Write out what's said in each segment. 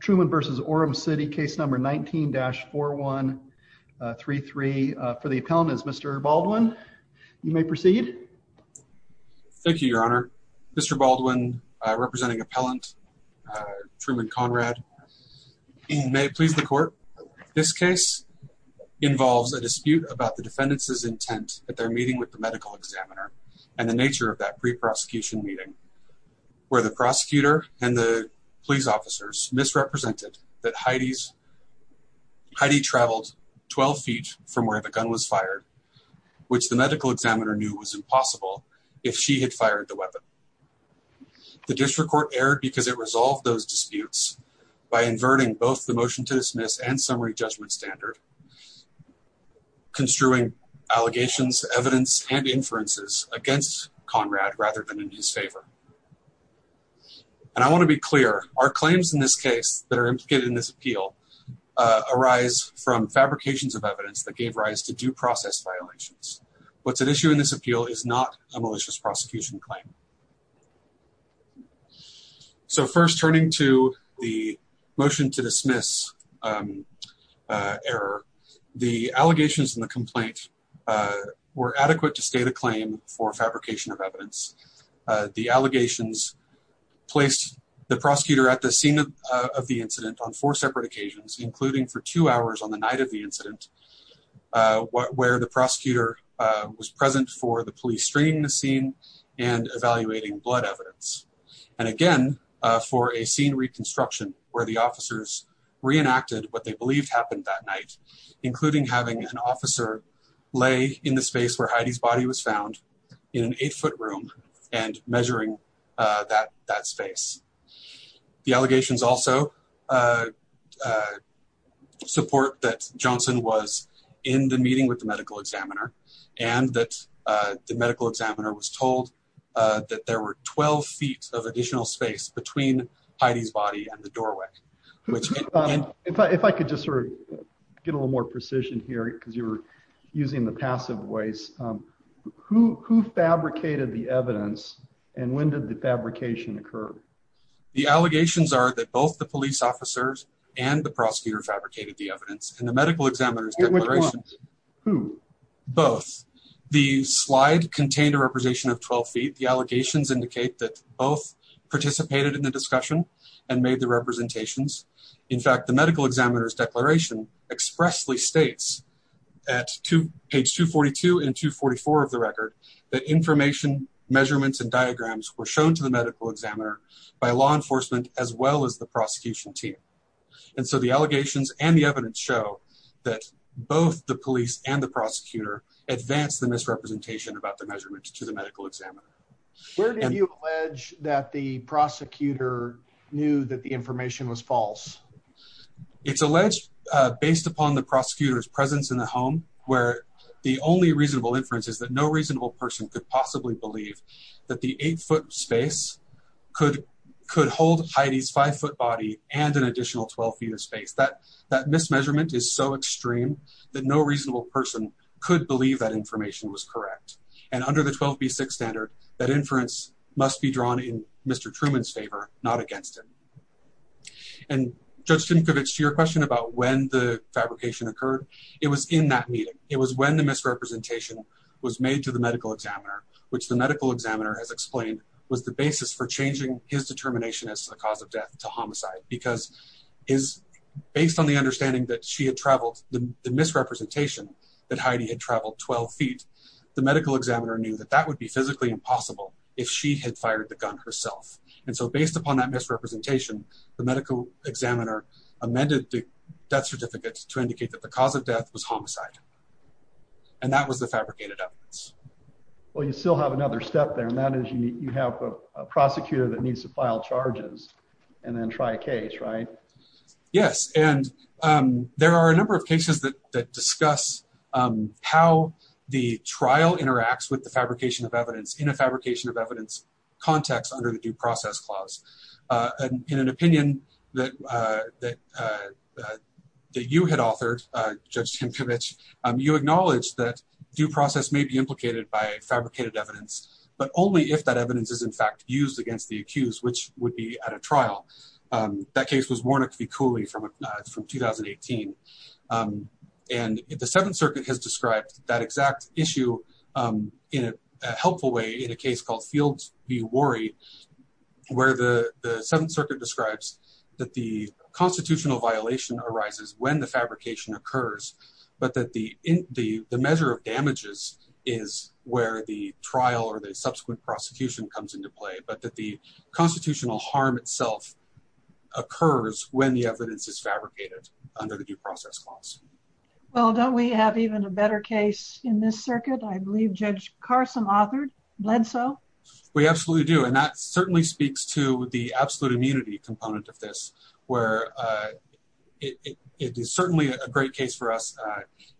Truman v. Orem City Case Number 19-4133 for the appellant is Mr. Baldwin. You may proceed. Thank you, Your Honor. Mr. Baldwin, representing Appellant Truman Conrad. May it please the Court, this case involves a dispute about the defendants' intent at their meeting with the medical examiner and the nature of that pre-prosecution meeting where the prosecutor and the police officers misrepresented that Heidi traveled 12 feet from where the gun was fired, which the medical examiner knew was impossible if she had fired the weapon. The District Court erred because it resolved those disputes by inverting both the motion to dismiss and summary judgment standard, construing allegations, evidence, and inferences against Conrad rather than in his favor. And I want to be clear, our claims in this case that are implicated in this appeal arise from fabrications of evidence that gave rise to due process violations. What's at issue in this appeal is not a malicious prosecution claim. So first, turning to the motion to dismiss error, the allegations in the complaint were adequate to state a claim for fabrication of evidence. The allegations placed the prosecutor at the scene of the incident on four separate occasions, including for two hours on the night of the incident, where the prosecutor was present for the police screening the scene and evaluating blood evidence. And again, for a scene reconstruction where the officers reenacted what they believed happened that night, including having an officer lay in the space where Heidi's body was found in an eight-foot room and measuring that space. The allegations also support that Johnson was in the meeting with the medical examiner and that the medical examiner was told that there were 12 feet of additional space between Heidi's body and the doorway. If I could just sort of get a little more precision here, because you were using the passive voice, who fabricated the evidence and when did the fabrication occur? The allegations are that both the police officers and the prosecutor fabricated the evidence and the medical examiner's declarations. Who? Both. The slide contained a representation of 12 feet. The In fact, the medical examiner's declaration expressly states at page 242 and 244 of the record that information measurements and diagrams were shown to the medical examiner by law enforcement as well as the prosecution team. And so the allegations and the evidence show that both the police and the prosecutor advanced the misrepresentation about the measurements to the medical examiner. Where did you allege that the prosecutor knew that information was false? It's alleged based upon the prosecutor's presence in the home where the only reasonable inference is that no reasonable person could possibly believe that the eight foot space could hold Heidi's five foot body and an additional 12 feet of space. That mismeasurement is so extreme that no reasonable person could believe that information was correct and under the 12b6 standard that inference must be drawn in Mr. Truman's favor, not against him. And Judge Simcovich, to your question about when the fabrication occurred, it was in that meeting. It was when the misrepresentation was made to the medical examiner, which the medical examiner has explained was the basis for changing his determination as to the cause of death to homicide because is based on the understanding that she had traveled the misrepresentation that Heidi had traveled 12 feet. The medical examiner knew that that would be physically impossible if she had fired the gun herself. And so based upon that misrepresentation, the medical examiner amended the death certificates to indicate that the cause of death was homicide. And that was the fabricated evidence. Well, you still have another step there, and that is you have a prosecutor that needs to file charges and then try a case, right? Yes. And there are a number of cases that discuss how the trial interacts with the fabrication of evidence of evidence context under the due process clause. In an opinion that you had authored, Judge Simcovich, you acknowledged that due process may be implicated by fabricated evidence, but only if that evidence is in fact used against the accused, which would be at a trial. That case was Warnock v. Cooley from 2018. And the Seventh Circuit has described that exact issue in a helpful way in a case called Fields v. Worry, where the Seventh Circuit describes that the constitutional violation arises when the fabrication occurs, but that the measure of damages is where the trial or the subsequent prosecution comes into play, but that the constitutional harm itself occurs when the evidence is fabricated under the due process clause. Well, don't we have even a better case in this circuit? I believe Judge Carson authored Bledsoe. We absolutely do. And that certainly speaks to the absolute immunity component of this, where it is certainly a great case for us.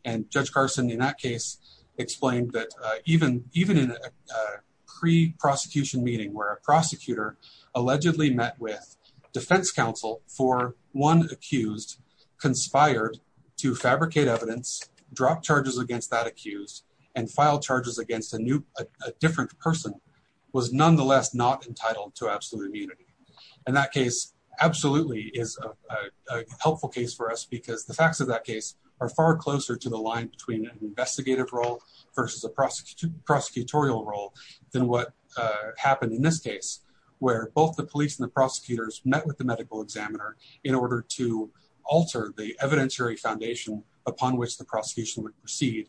And Judge Carson, in that case, explained that even in a pre-prosecution meeting where a prosecutor allegedly met with fabricated evidence, dropped charges against that accused, and filed charges against a different person, was nonetheless not entitled to absolute immunity. And that case absolutely is a helpful case for us because the facts of that case are far closer to the line between an investigative role versus a prosecutorial role than what happened in this case, where both the police and the upon which the prosecution would proceed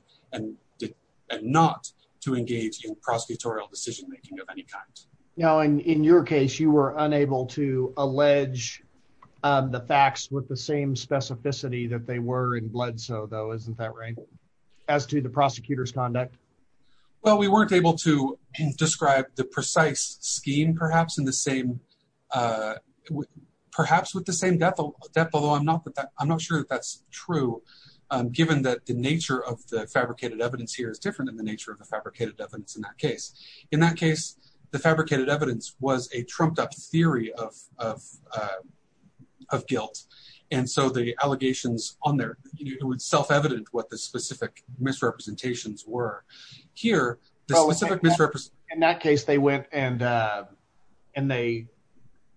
and not to engage in prosecutorial decision-making of any kind. Now, in your case, you were unable to allege the facts with the same specificity that they were in Bledsoe, though, isn't that right, as to the prosecutor's conduct? Well, we weren't able to describe the precise scheme perhaps in the same, perhaps with the same depth, although I'm not sure that that's true, given that the nature of the fabricated evidence here is different than the nature of the fabricated evidence in that case. In that case, the fabricated evidence was a trumped-up theory of guilt. And so the allegations on there, it would self-evident what the specific misrepresentations were. Here, the specific misrepresentations... In that case, they went and they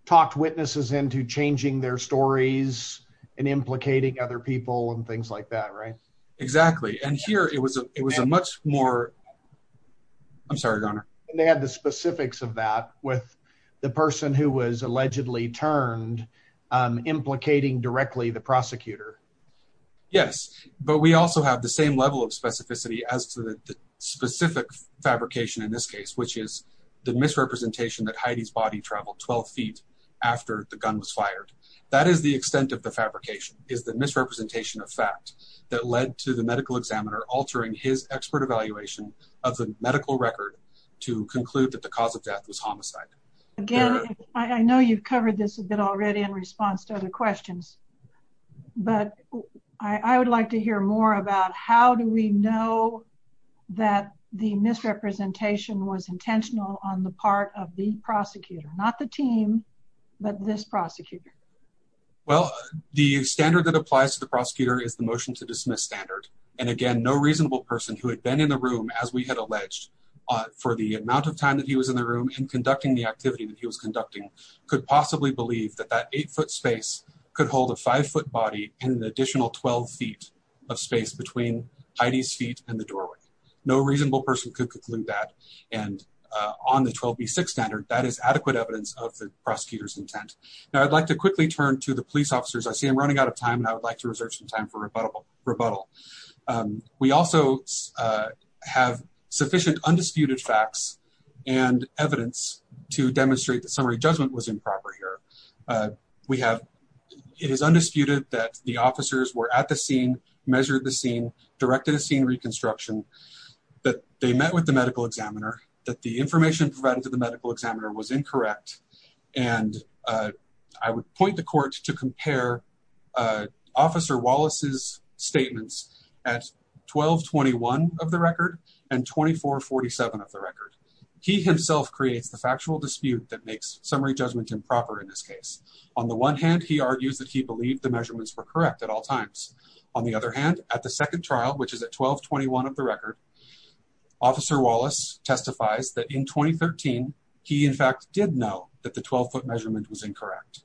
talked witnesses into changing their stories and implicating other people and things like that, right? Exactly. And here, it was a much more... I'm sorry, Garner. They had the specifics of that with the person who was allegedly turned, implicating directly the prosecutor. Yes, but we also have the same level of specificity as to the specific fabrication in this case, which is the misrepresentation that Heidi's body traveled 12 feet after the gun was fired. That is the extent of the fabrication, is the misrepresentation of fact that led to the medical examiner altering his expert evaluation of the medical record to conclude that the cause of death was homicide. Again, I know you've covered this a bit already in response to other questions, but I would like to hear more about how do we know that the misrepresentation was intentional on the part of the prosecutor, not the team, but this prosecutor? Well, the standard that applies to the prosecutor is the motion to dismiss standard. And again, no reasonable person who had been in the room, as we had alleged, for the amount of time that he was in the room and conducting the activity that he was conducting could possibly believe that that eight foot space could hold a five foot body and an additional 12 feet of space between Heidi's feet and the doorway. No reasonable person could conclude that. And on the 12B6 standard, that is adequate evidence of the prosecutor's intent. Now, I'd like to quickly turn to the police officers. I see I'm running out of time and I would like to reserve some time for rebuttal. We also have sufficient undisputed facts and evidence to demonstrate that summary judgment was improper here. We have, it is undisputed that the officers were at the scene, measured the scene, directed a scene reconstruction, that they met with the medical examiner, that the information provided to the medical examiner was incorrect. And I would point the court to compare Officer Wallace's statements at 1221 of the record and 2447 of the record. He himself creates the factual dispute that makes summary judgment improper in this case. On the one hand, he argues that he believed the measurements were correct at all times. On the other hand, at the second trial, which is at 1221 of the record, Officer Wallace testifies that in 2013, he in fact did know that the 12 foot measurement was incorrect.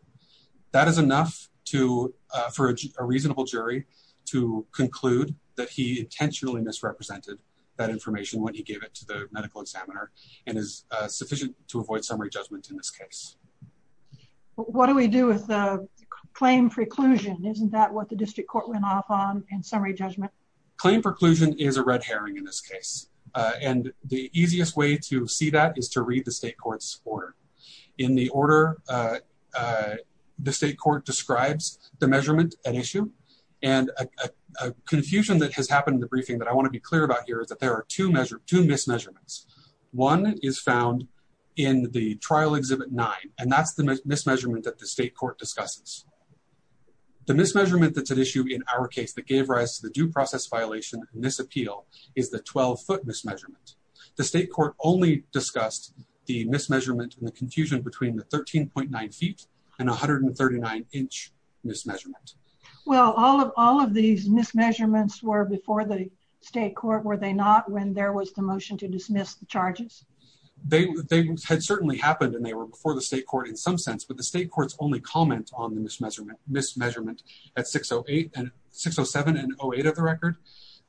That is enough to, for a reasonable jury to conclude that he intentionally misrepresented that information when he gave it to the medical examiner and is sufficient to avoid summary judgment in this case. What do we do with the claim preclusion? Isn't that what the district court went off on in summary judgment? Claim preclusion is a red herring in this case, and the easiest way to see that is to read the state court's order. In the order, the state court describes the measurement at issue and a confusion that has happened in the two mismeasurements. One is found in the trial exhibit nine, and that's the mismeasurement that the state court discusses. The mismeasurement that's at issue in our case that gave rise to the due process violation and misappeal is the 12 foot mismeasurement. The state court only discussed the mismeasurement and the confusion between the 13.9 feet and 139 inch mismeasurement. Well, all of these mismeasurements were before the state court, were they not, when there was the motion to dismiss the charges? They had certainly happened and they were before the state court in some sense, but the state court's only comment on the mismeasurement at 607 and 08 of the record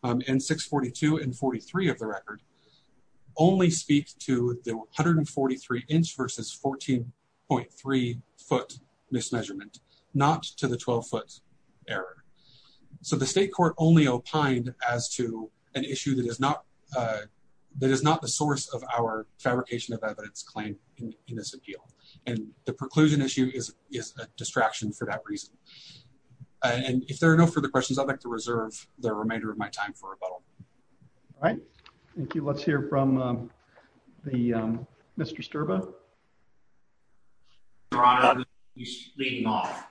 and 642 and 43 of the record only speak to the 143 inch versus 14.3 foot mismeasurement, not to the 12 foot error. So the state court only opined as to an issue that is not, that is not the source of our fabrication of evidence claim in this appeal. And the preclusion issue is a distraction for that reason. And if there are no further questions, I'd like to reserve the remainder of my time for rebuttal. All right. Thank you. Let's hear from the, um, Mr. Sturba. Leading off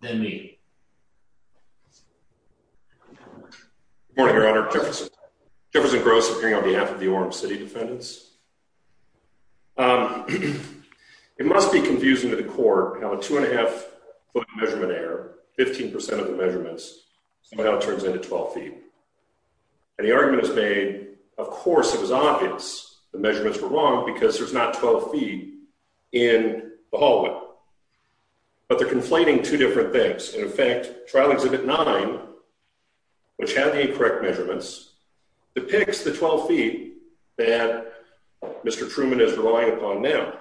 than me. Morning, Your Honor. Jefferson. Jefferson Gross appearing on behalf of the Orem City defendants. It must be confusing to the court how a two and a half foot measurement error, 15% of the measurements somehow turns into 12 feet. And the argument is made, of course, it was obvious the measurements were wrong because there's not 12 feet in the hallway, but they're conflating two different things. In effect, trial exhibit nine, which had the correct measurements, depicts the 12 feet that Mr. Truman is relying upon now.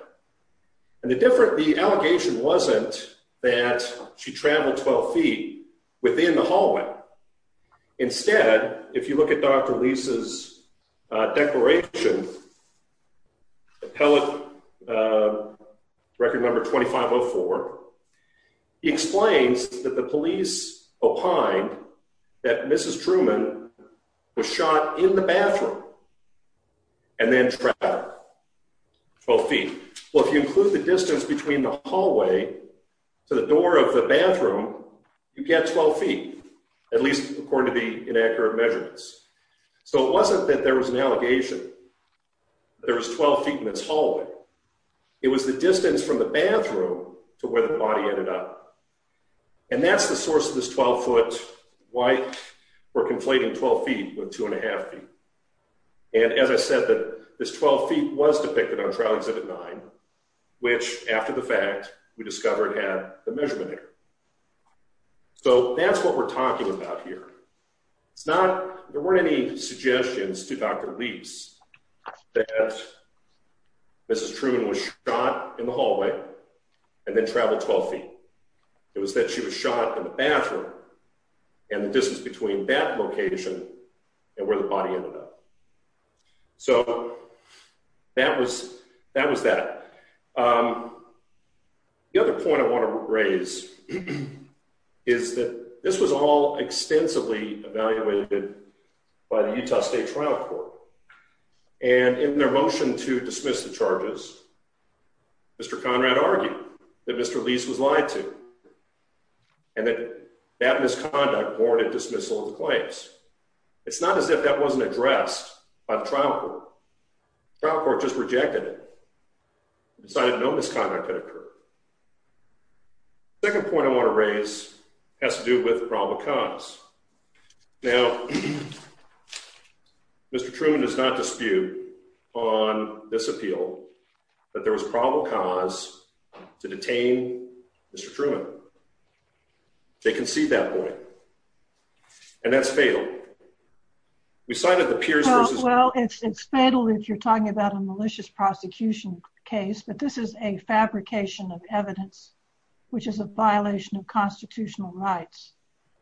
And the different, the allegation wasn't that she traveled 12 feet within the hallway. Instead, if you look at Dr. Lisa's declaration, appellate record number 2504, he explains that the police opined that Mrs. Truman was shot in the bathroom and then trapped 12 feet. Well, if you include the distance between the at least according to the inaccurate measurements. So it wasn't that there was an allegation. There was 12 feet in this hallway. It was the distance from the bathroom to where the body ended up. And that's the source of this 12 foot why we're conflating 12 feet with two and a half feet. And as I said, that this 12 feet was depicted on trial exhibit nine, which after the fact we discovered had the measurement error. So that's what we're talking about here. It's not, there weren't any suggestions to Dr. Lease that Mrs. Truman was shot in the hallway and then traveled 12 feet. It was that she was shot in the bathroom and the distance between that location and where the body ended up. So that was, that was that. The other point I want to raise is that this was all extensively evaluated by the Utah State Trial Court. And in their motion to dismiss the charges, Mr. Conrad argued that Mr. Lease was lied to and that that misconduct warranted dismissal of the case. It's not as if that wasn't addressed by the trial court. Trial court just rejected it, decided no misconduct had occurred. Second point I want to raise has to do with probable cause. Now, Mr. Truman does not dispute on this appeal that there was probable cause to detain Mr. Truman. They concede that point. And that's fatal. We cited the Pierce versus... Well, it's fatal if you're talking about a malicious prosecution case, but this is a fabrication of evidence, which is a violation of constitutional rights.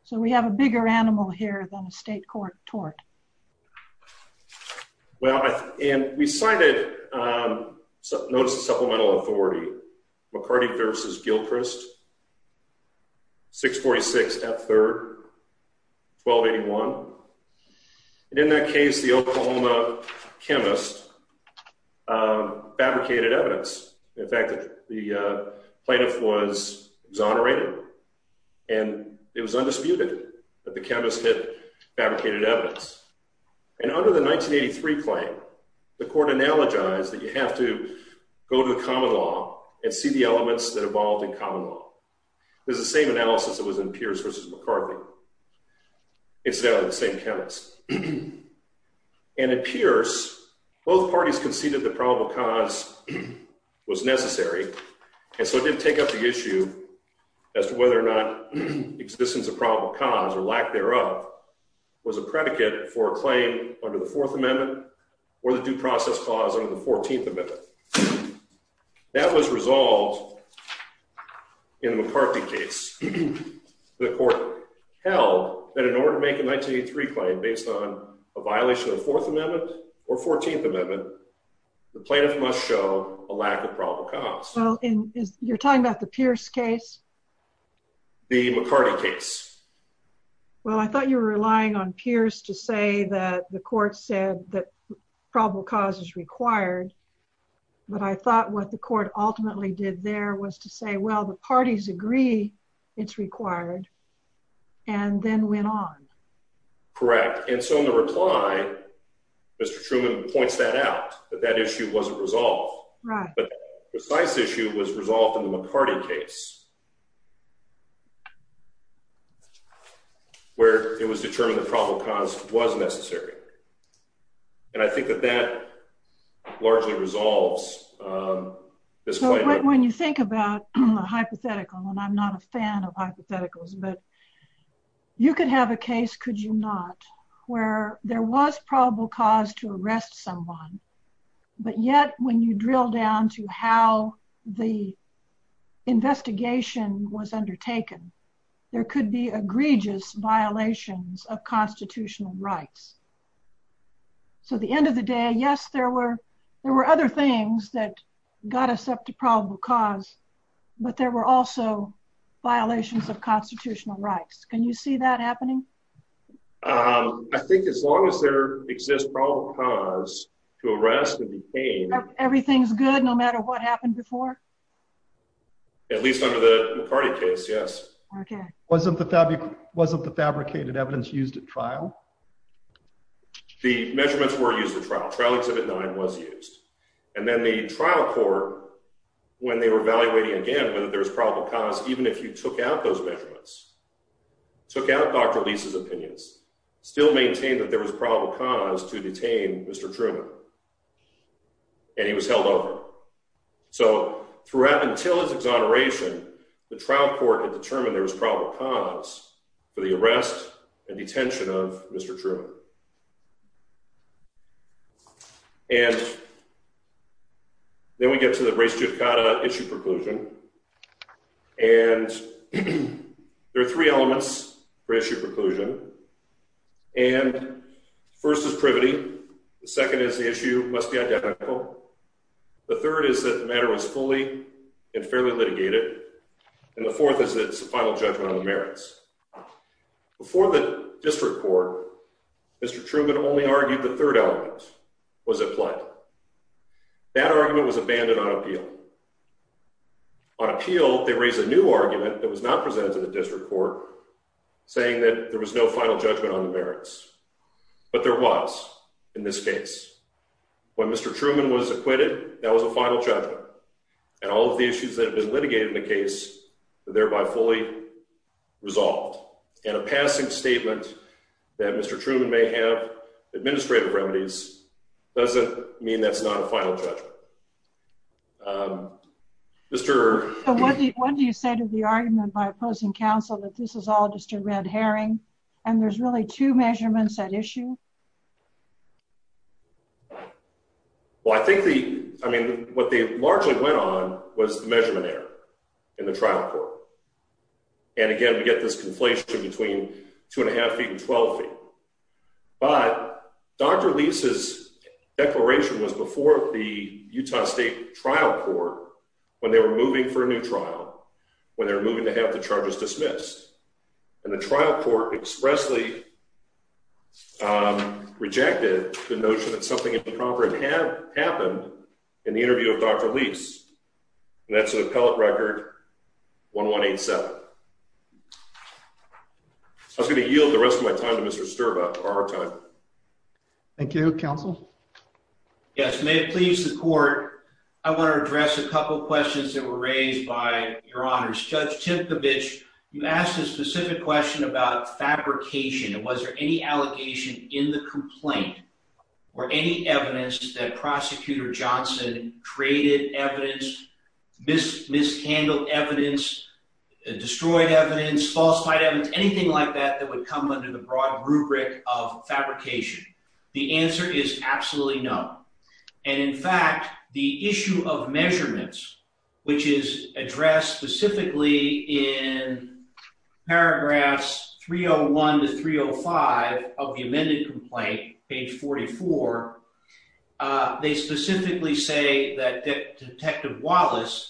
So we have a bigger animal here than a state court tort. Well, and we cited, notice the supplemental authority, McCarty versus Gilchrist, 646 F. 3rd, 1281. And in that case, the Oklahoma chemist fabricated evidence. In fact, the plaintiff was exonerated and it was undisputed that the chemist had fabricated evidence. And under the 1983 claim, the court analogized that you have to go to the common law and see the elements that evolved in common law. There's the same analysis that was in Pierce versus McCarthy. Incidentally, the same chemist. And in Pierce, both parties conceded the probable cause was necessary. And so it didn't take up the issue as to whether or not existence of probable cause or lack thereof was a predicate for a claim under the fourth amendment or the due process clause under the 14th amendment. That was resolved in the McCarthy case. The court held that in order to make a 1983 claim based on a violation of the fourth amendment or 14th amendment, the plaintiff must show a lack of probable cause. Well, you're talking about the Pierce case? The McCarty case. Well, I thought you were relying on Pierce to say that the court said that probable cause is required. But I thought what the court ultimately did there was to say, well, the parties agree it's required and then went on. Correct. And so in the reply, Mr. Truman points that out, that that issue wasn't resolved. But the precise issue was resolved in the McCarthy case where it was determined the probable cause was necessary. And I think that that largely resolves this claim. When you think about a hypothetical, and I'm not a fan of hypotheticals, but you could have a case, could you not, where there was probable cause to arrest someone, but yet when you drill down to how the investigation was undertaken, there could be egregious violations of constitutional rights. So at the end of the day, yes, there were other things that got us up to probable cause, but there were also violations of constitutional rights. Can you see that happening? Um, I think as long as there exists probable cause to arrest and detain, everything's good, no matter what happened before. At least under the McCarty case. Yes. Okay. Wasn't the fabric, wasn't the fabricated evidence used at trial? The measurements were used for trial. Trial exhibit nine was used. And then the trial court, when they were evaluating again, whether there was probable cause, even if you took out those measurements, took out Dr. Leese's opinions, still maintained that there was probable cause to detain Mr. Truman. And he was held over. So until his exoneration, the trial court had determined there was probable cause for the arrest and detention of Mr. Truman. And then we get to the race judicata issue preclusion. And there are three elements for issue preclusion. And first is privity. The second is the issue must be identical. The third is that the matter was fully and fairly litigated. And the fourth is that it's a final judgment on the merits. Before the district court, Mr. Truman only argued the third element was applied. That argument was abandoned on appeal. On appeal, they raised a new argument that was not presented to the district court saying that there was no final judgment on the merits. But there was in this case. When Mr. Truman was acquitted, that was a final judgment. And all of the issues that have been litigated in the case were thereby fully resolved. And a have administrative remedies doesn't mean that's not a final judgment. Mr. What do you say to the argument by opposing counsel that this is all just a red herring, and there's really two measurements at issue? Well, I think the I mean, what they largely went on was the measurement error in the trial court. And again, we get this conflation between two and a half feet and 12 feet. But Dr. Lease's declaration was before the Utah State trial court, when they were moving for a new trial, when they're moving to have the charges dismissed. And the trial court expressly rejected the notion that something improper had happened in the interview of Dr. Lease. That's an appellate record 1187. I was going to yield the rest of my time to Mr. Sturba our time. Thank you, counsel. Yes, may it please the court. I want to address a couple questions that were raised by your honor's judge tip the bitch. You asked a specific question about fabrication. And was this miscandled evidence, destroyed evidence, falsified evidence, anything like that that would come under the broad rubric of fabrication? The answer is absolutely no. And in fact, the issue of measurements, which is addressed specifically in paragraphs 301 to 305 of the Wallace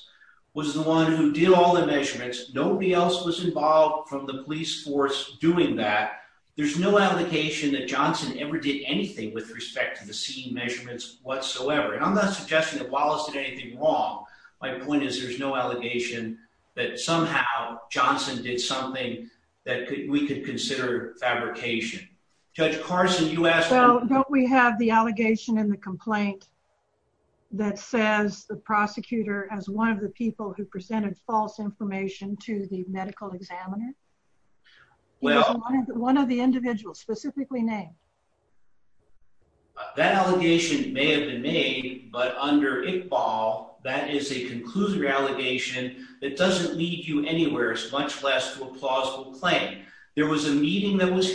was the one who did all the measurements, nobody else was involved from the police force doing that. There's no allegation that Johnson ever did anything with respect to the scene measurements whatsoever. And I'm not suggesting that Wallace did anything wrong. My point is, there's no allegation that somehow Johnson did something that we could consider fabrication. Judge Carson, you asked, don't we have the allegation in the complaint that says the prosecutor as one of the people who presented false information to the medical examiner? Well, one of the individuals specifically named that allegation may have been made, but under a fall, that is a conclusive allegation that doesn't lead you anywhere as much less to a plausible claim. There was a meeting that was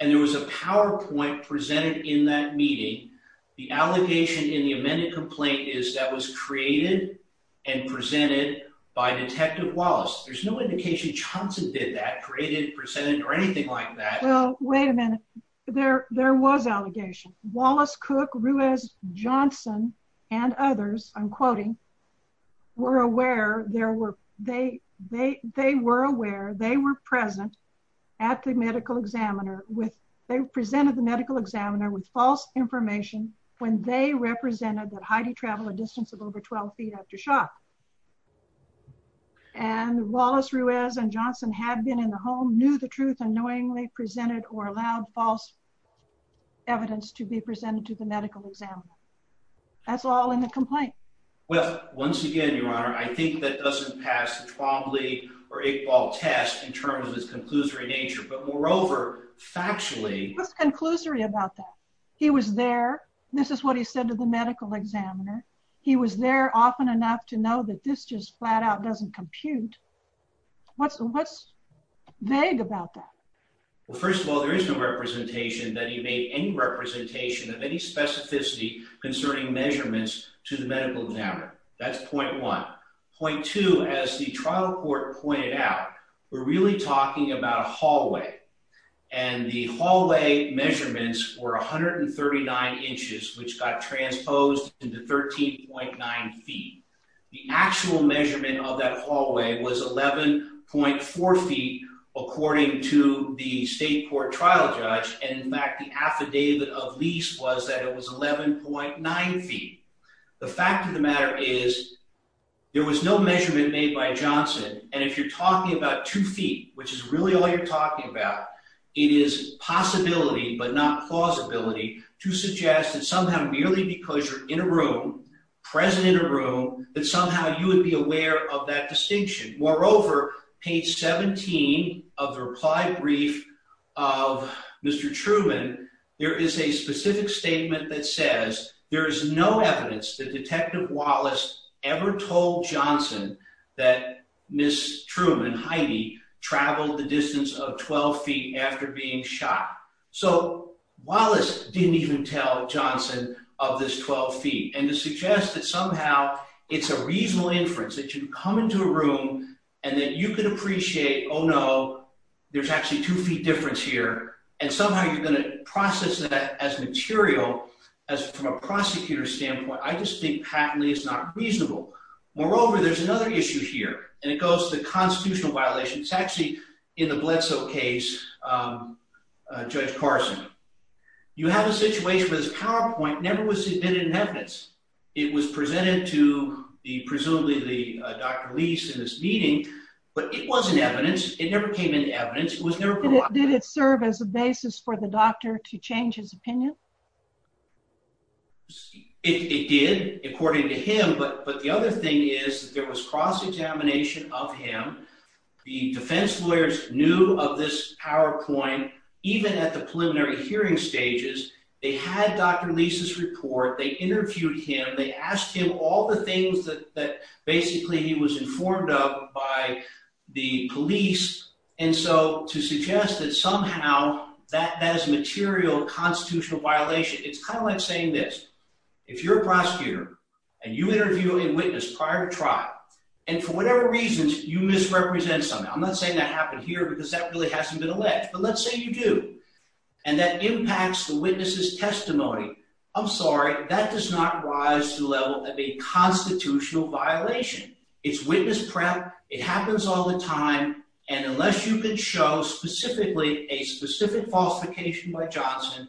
and there was a PowerPoint presented in that meeting. The allegation in the amended complaint is that was created and presented by Detective Wallace. There's no indication Johnson did that created, presented or anything like that. Well, wait a minute. There was allegation. Wallace, Cook, Ruiz, Johnson, and others, I'm quoting, were aware there were, they were aware they were present at the medical examiner with, they presented the medical examiner with false information when they represented that Heidi traveled a distance of over 12 feet after shock. And Wallace, Ruiz, and Johnson had been in the home, knew the truth and knowingly presented or allowed false evidence to be presented to the medical examiner. That's all in the complaint. Well, once again, Your Honor, I think that doesn't pass the Twombly or Iqbal test in terms of its conclusory nature, but moreover, factually. What's conclusory about that? He was there. This is what he said to the medical examiner. He was there often enough to know that this just flat out doesn't compute. What's, what's vague about that? Well, first of all, there is no representation that he made any representation of any specificity concerning measurements to the medical examiner. That's point one. Point two, as the trial court pointed out, we're really talking about a hallway and the hallway measurements were 139 inches, which got transposed into 13.9 feet. The actual measurement of that hallway was 11.4 feet, according to the state court trial judge, and in fact, the affidavit of lease was that it was 11.9 feet. The fact of the matter is there was no measurement made by Johnson. And if you're talking about two feet, which is really all you're talking about, it is possibility, but not plausibility to suggest that somehow, merely because you're in a room, present in a room, that somehow you would be aware of that there is a specific statement that says there is no evidence that detective Wallace ever told Johnson that Ms. Truman, Heidi traveled the distance of 12 feet after being shot. So Wallace didn't even tell Johnson of this 12 feet and to suggest that somehow it's a reasonable inference that you come into a room and that you can appreciate, oh no, there's actually two feet difference here. And somehow you're going to process that as material, as from a prosecutor standpoint, I just think patently it's not reasonable. Moreover, there's another issue here and it goes to the constitutional violation. It's actually in the Bledsoe case, Judge Carson. You have a situation where this PowerPoint never was submitted in evidence. It was presented to presumably the Dr. Lease in this meeting, but it wasn't evidence. It never came into evidence. Did it serve as a basis for the doctor to change his opinion? It did according to him, but the other thing is that there was cross-examination of him. The defense lawyers knew of this PowerPoint even at the preliminary hearing stages. They had Dr. Lease's report. They interviewed him. They asked him all the things that basically he was informed of by the police. And so to suggest that somehow that is a material constitutional violation, it's kind of like saying this, if you're a prosecutor and you interview a witness prior to trial, and for whatever reasons you misrepresent something, I'm not saying that happened here because that really hasn't been alleged, but let's say you do, and that impacts the witness's testimony, I'm sorry, that does not rise to the level of a constitutional violation. It's witness prep. It happens all the time, and unless you can show specifically a specific falsification by Johnson,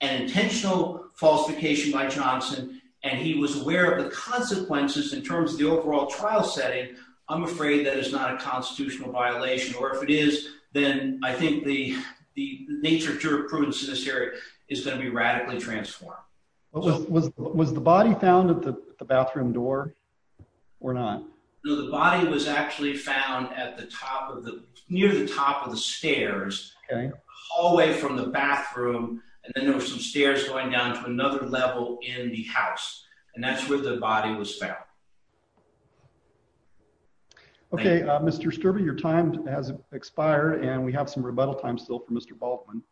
an intentional falsification by Johnson, and he was aware of the consequences in terms of the overall trial setting, I'm afraid that is not a constitutional violation, or if it is, then I think the nature of jurisprudence in this area is going to be the body was actually found at the top of the near the top of the stairs hallway from the bathroom, and then there were some stairs going down to another level in the house, and that's where the body was found. Okay, Mr. Sturber, your time has expired, and we have some rebuttal time still for Mr. Baldwin.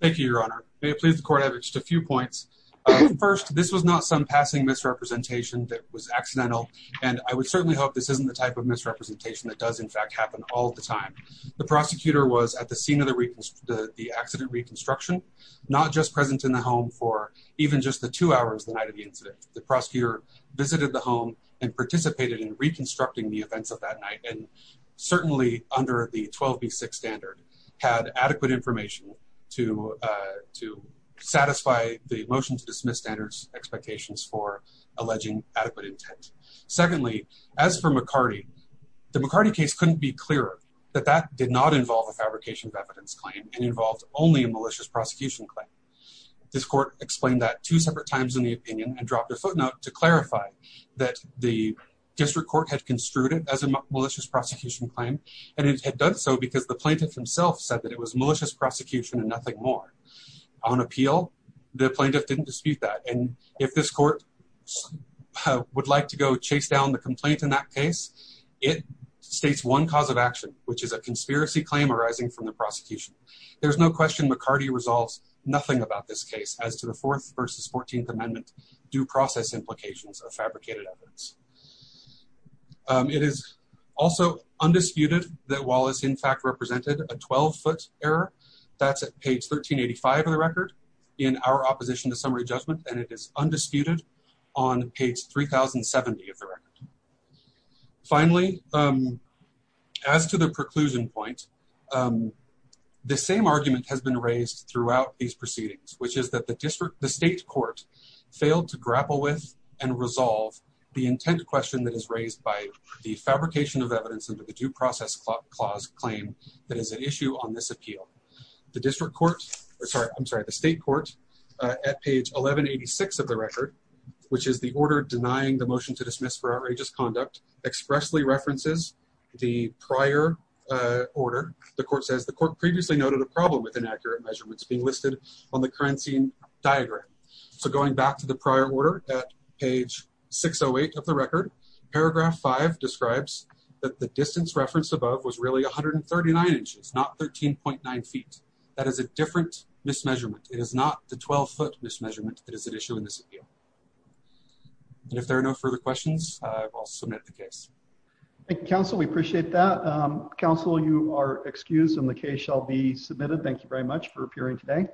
Thank you, Your Honor. May it please the court have just a few points. First, this was not some and I would certainly hope this isn't the type of misrepresentation that does in fact happen all the time. The prosecutor was at the scene of the accident reconstruction, not just present in the home for even just the two hours the night of the incident. The prosecutor visited the home and participated in reconstructing the events of that night, and certainly under the 12b6 standard had adequate information to satisfy the motion to dismiss standards expectations for as for McCarty, the McCarty case couldn't be clearer that that did not involve a fabrication of evidence claim and involved only a malicious prosecution claim. This court explained that two separate times in the opinion and dropped a footnote to clarify that the district court had construed it as a malicious prosecution claim, and it had done so because the plaintiff himself said that it was malicious prosecution and nothing more. On appeal, the plaintiff didn't dispute that, and if this court would like to go chase down the complaint in that case, it states one cause of action, which is a conspiracy claim arising from the prosecution. There's no question McCarty resolves nothing about this case as to the Fourth versus 14th Amendment due process implications of fabricated evidence. It is also undisputed that Wallace, in fact, represented a 12-foot error. That's at page 1385 of the record. In our opposition to summary judgment, and it is undisputed on page 3070 of the record. Finally, as to the preclusion point, the same argument has been raised throughout these proceedings, which is that the district, the state court failed to grapple with and resolve the intent question that is raised by the fabrication of evidence under the due process clause claim that is an appeal. The state court at page 1186 of the record, which is the order denying the motion to dismiss for outrageous conduct, expressly references the prior order. The court says the court previously noted a problem with inaccurate measurements being listed on the currency diagram. So going back to the prior order at page 608 of the record, paragraph five describes that the distance referenced above was really 139 inches, not 13.9 feet. That is a different mismeasurement. It is not the 12-foot mismeasurement that is at issue in this appeal. And if there are no further questions, I will submit the case. Thank you, counsel. We appreciate that. Counsel, you are excused, and the case shall be submitted. Thank you very much for appearing today.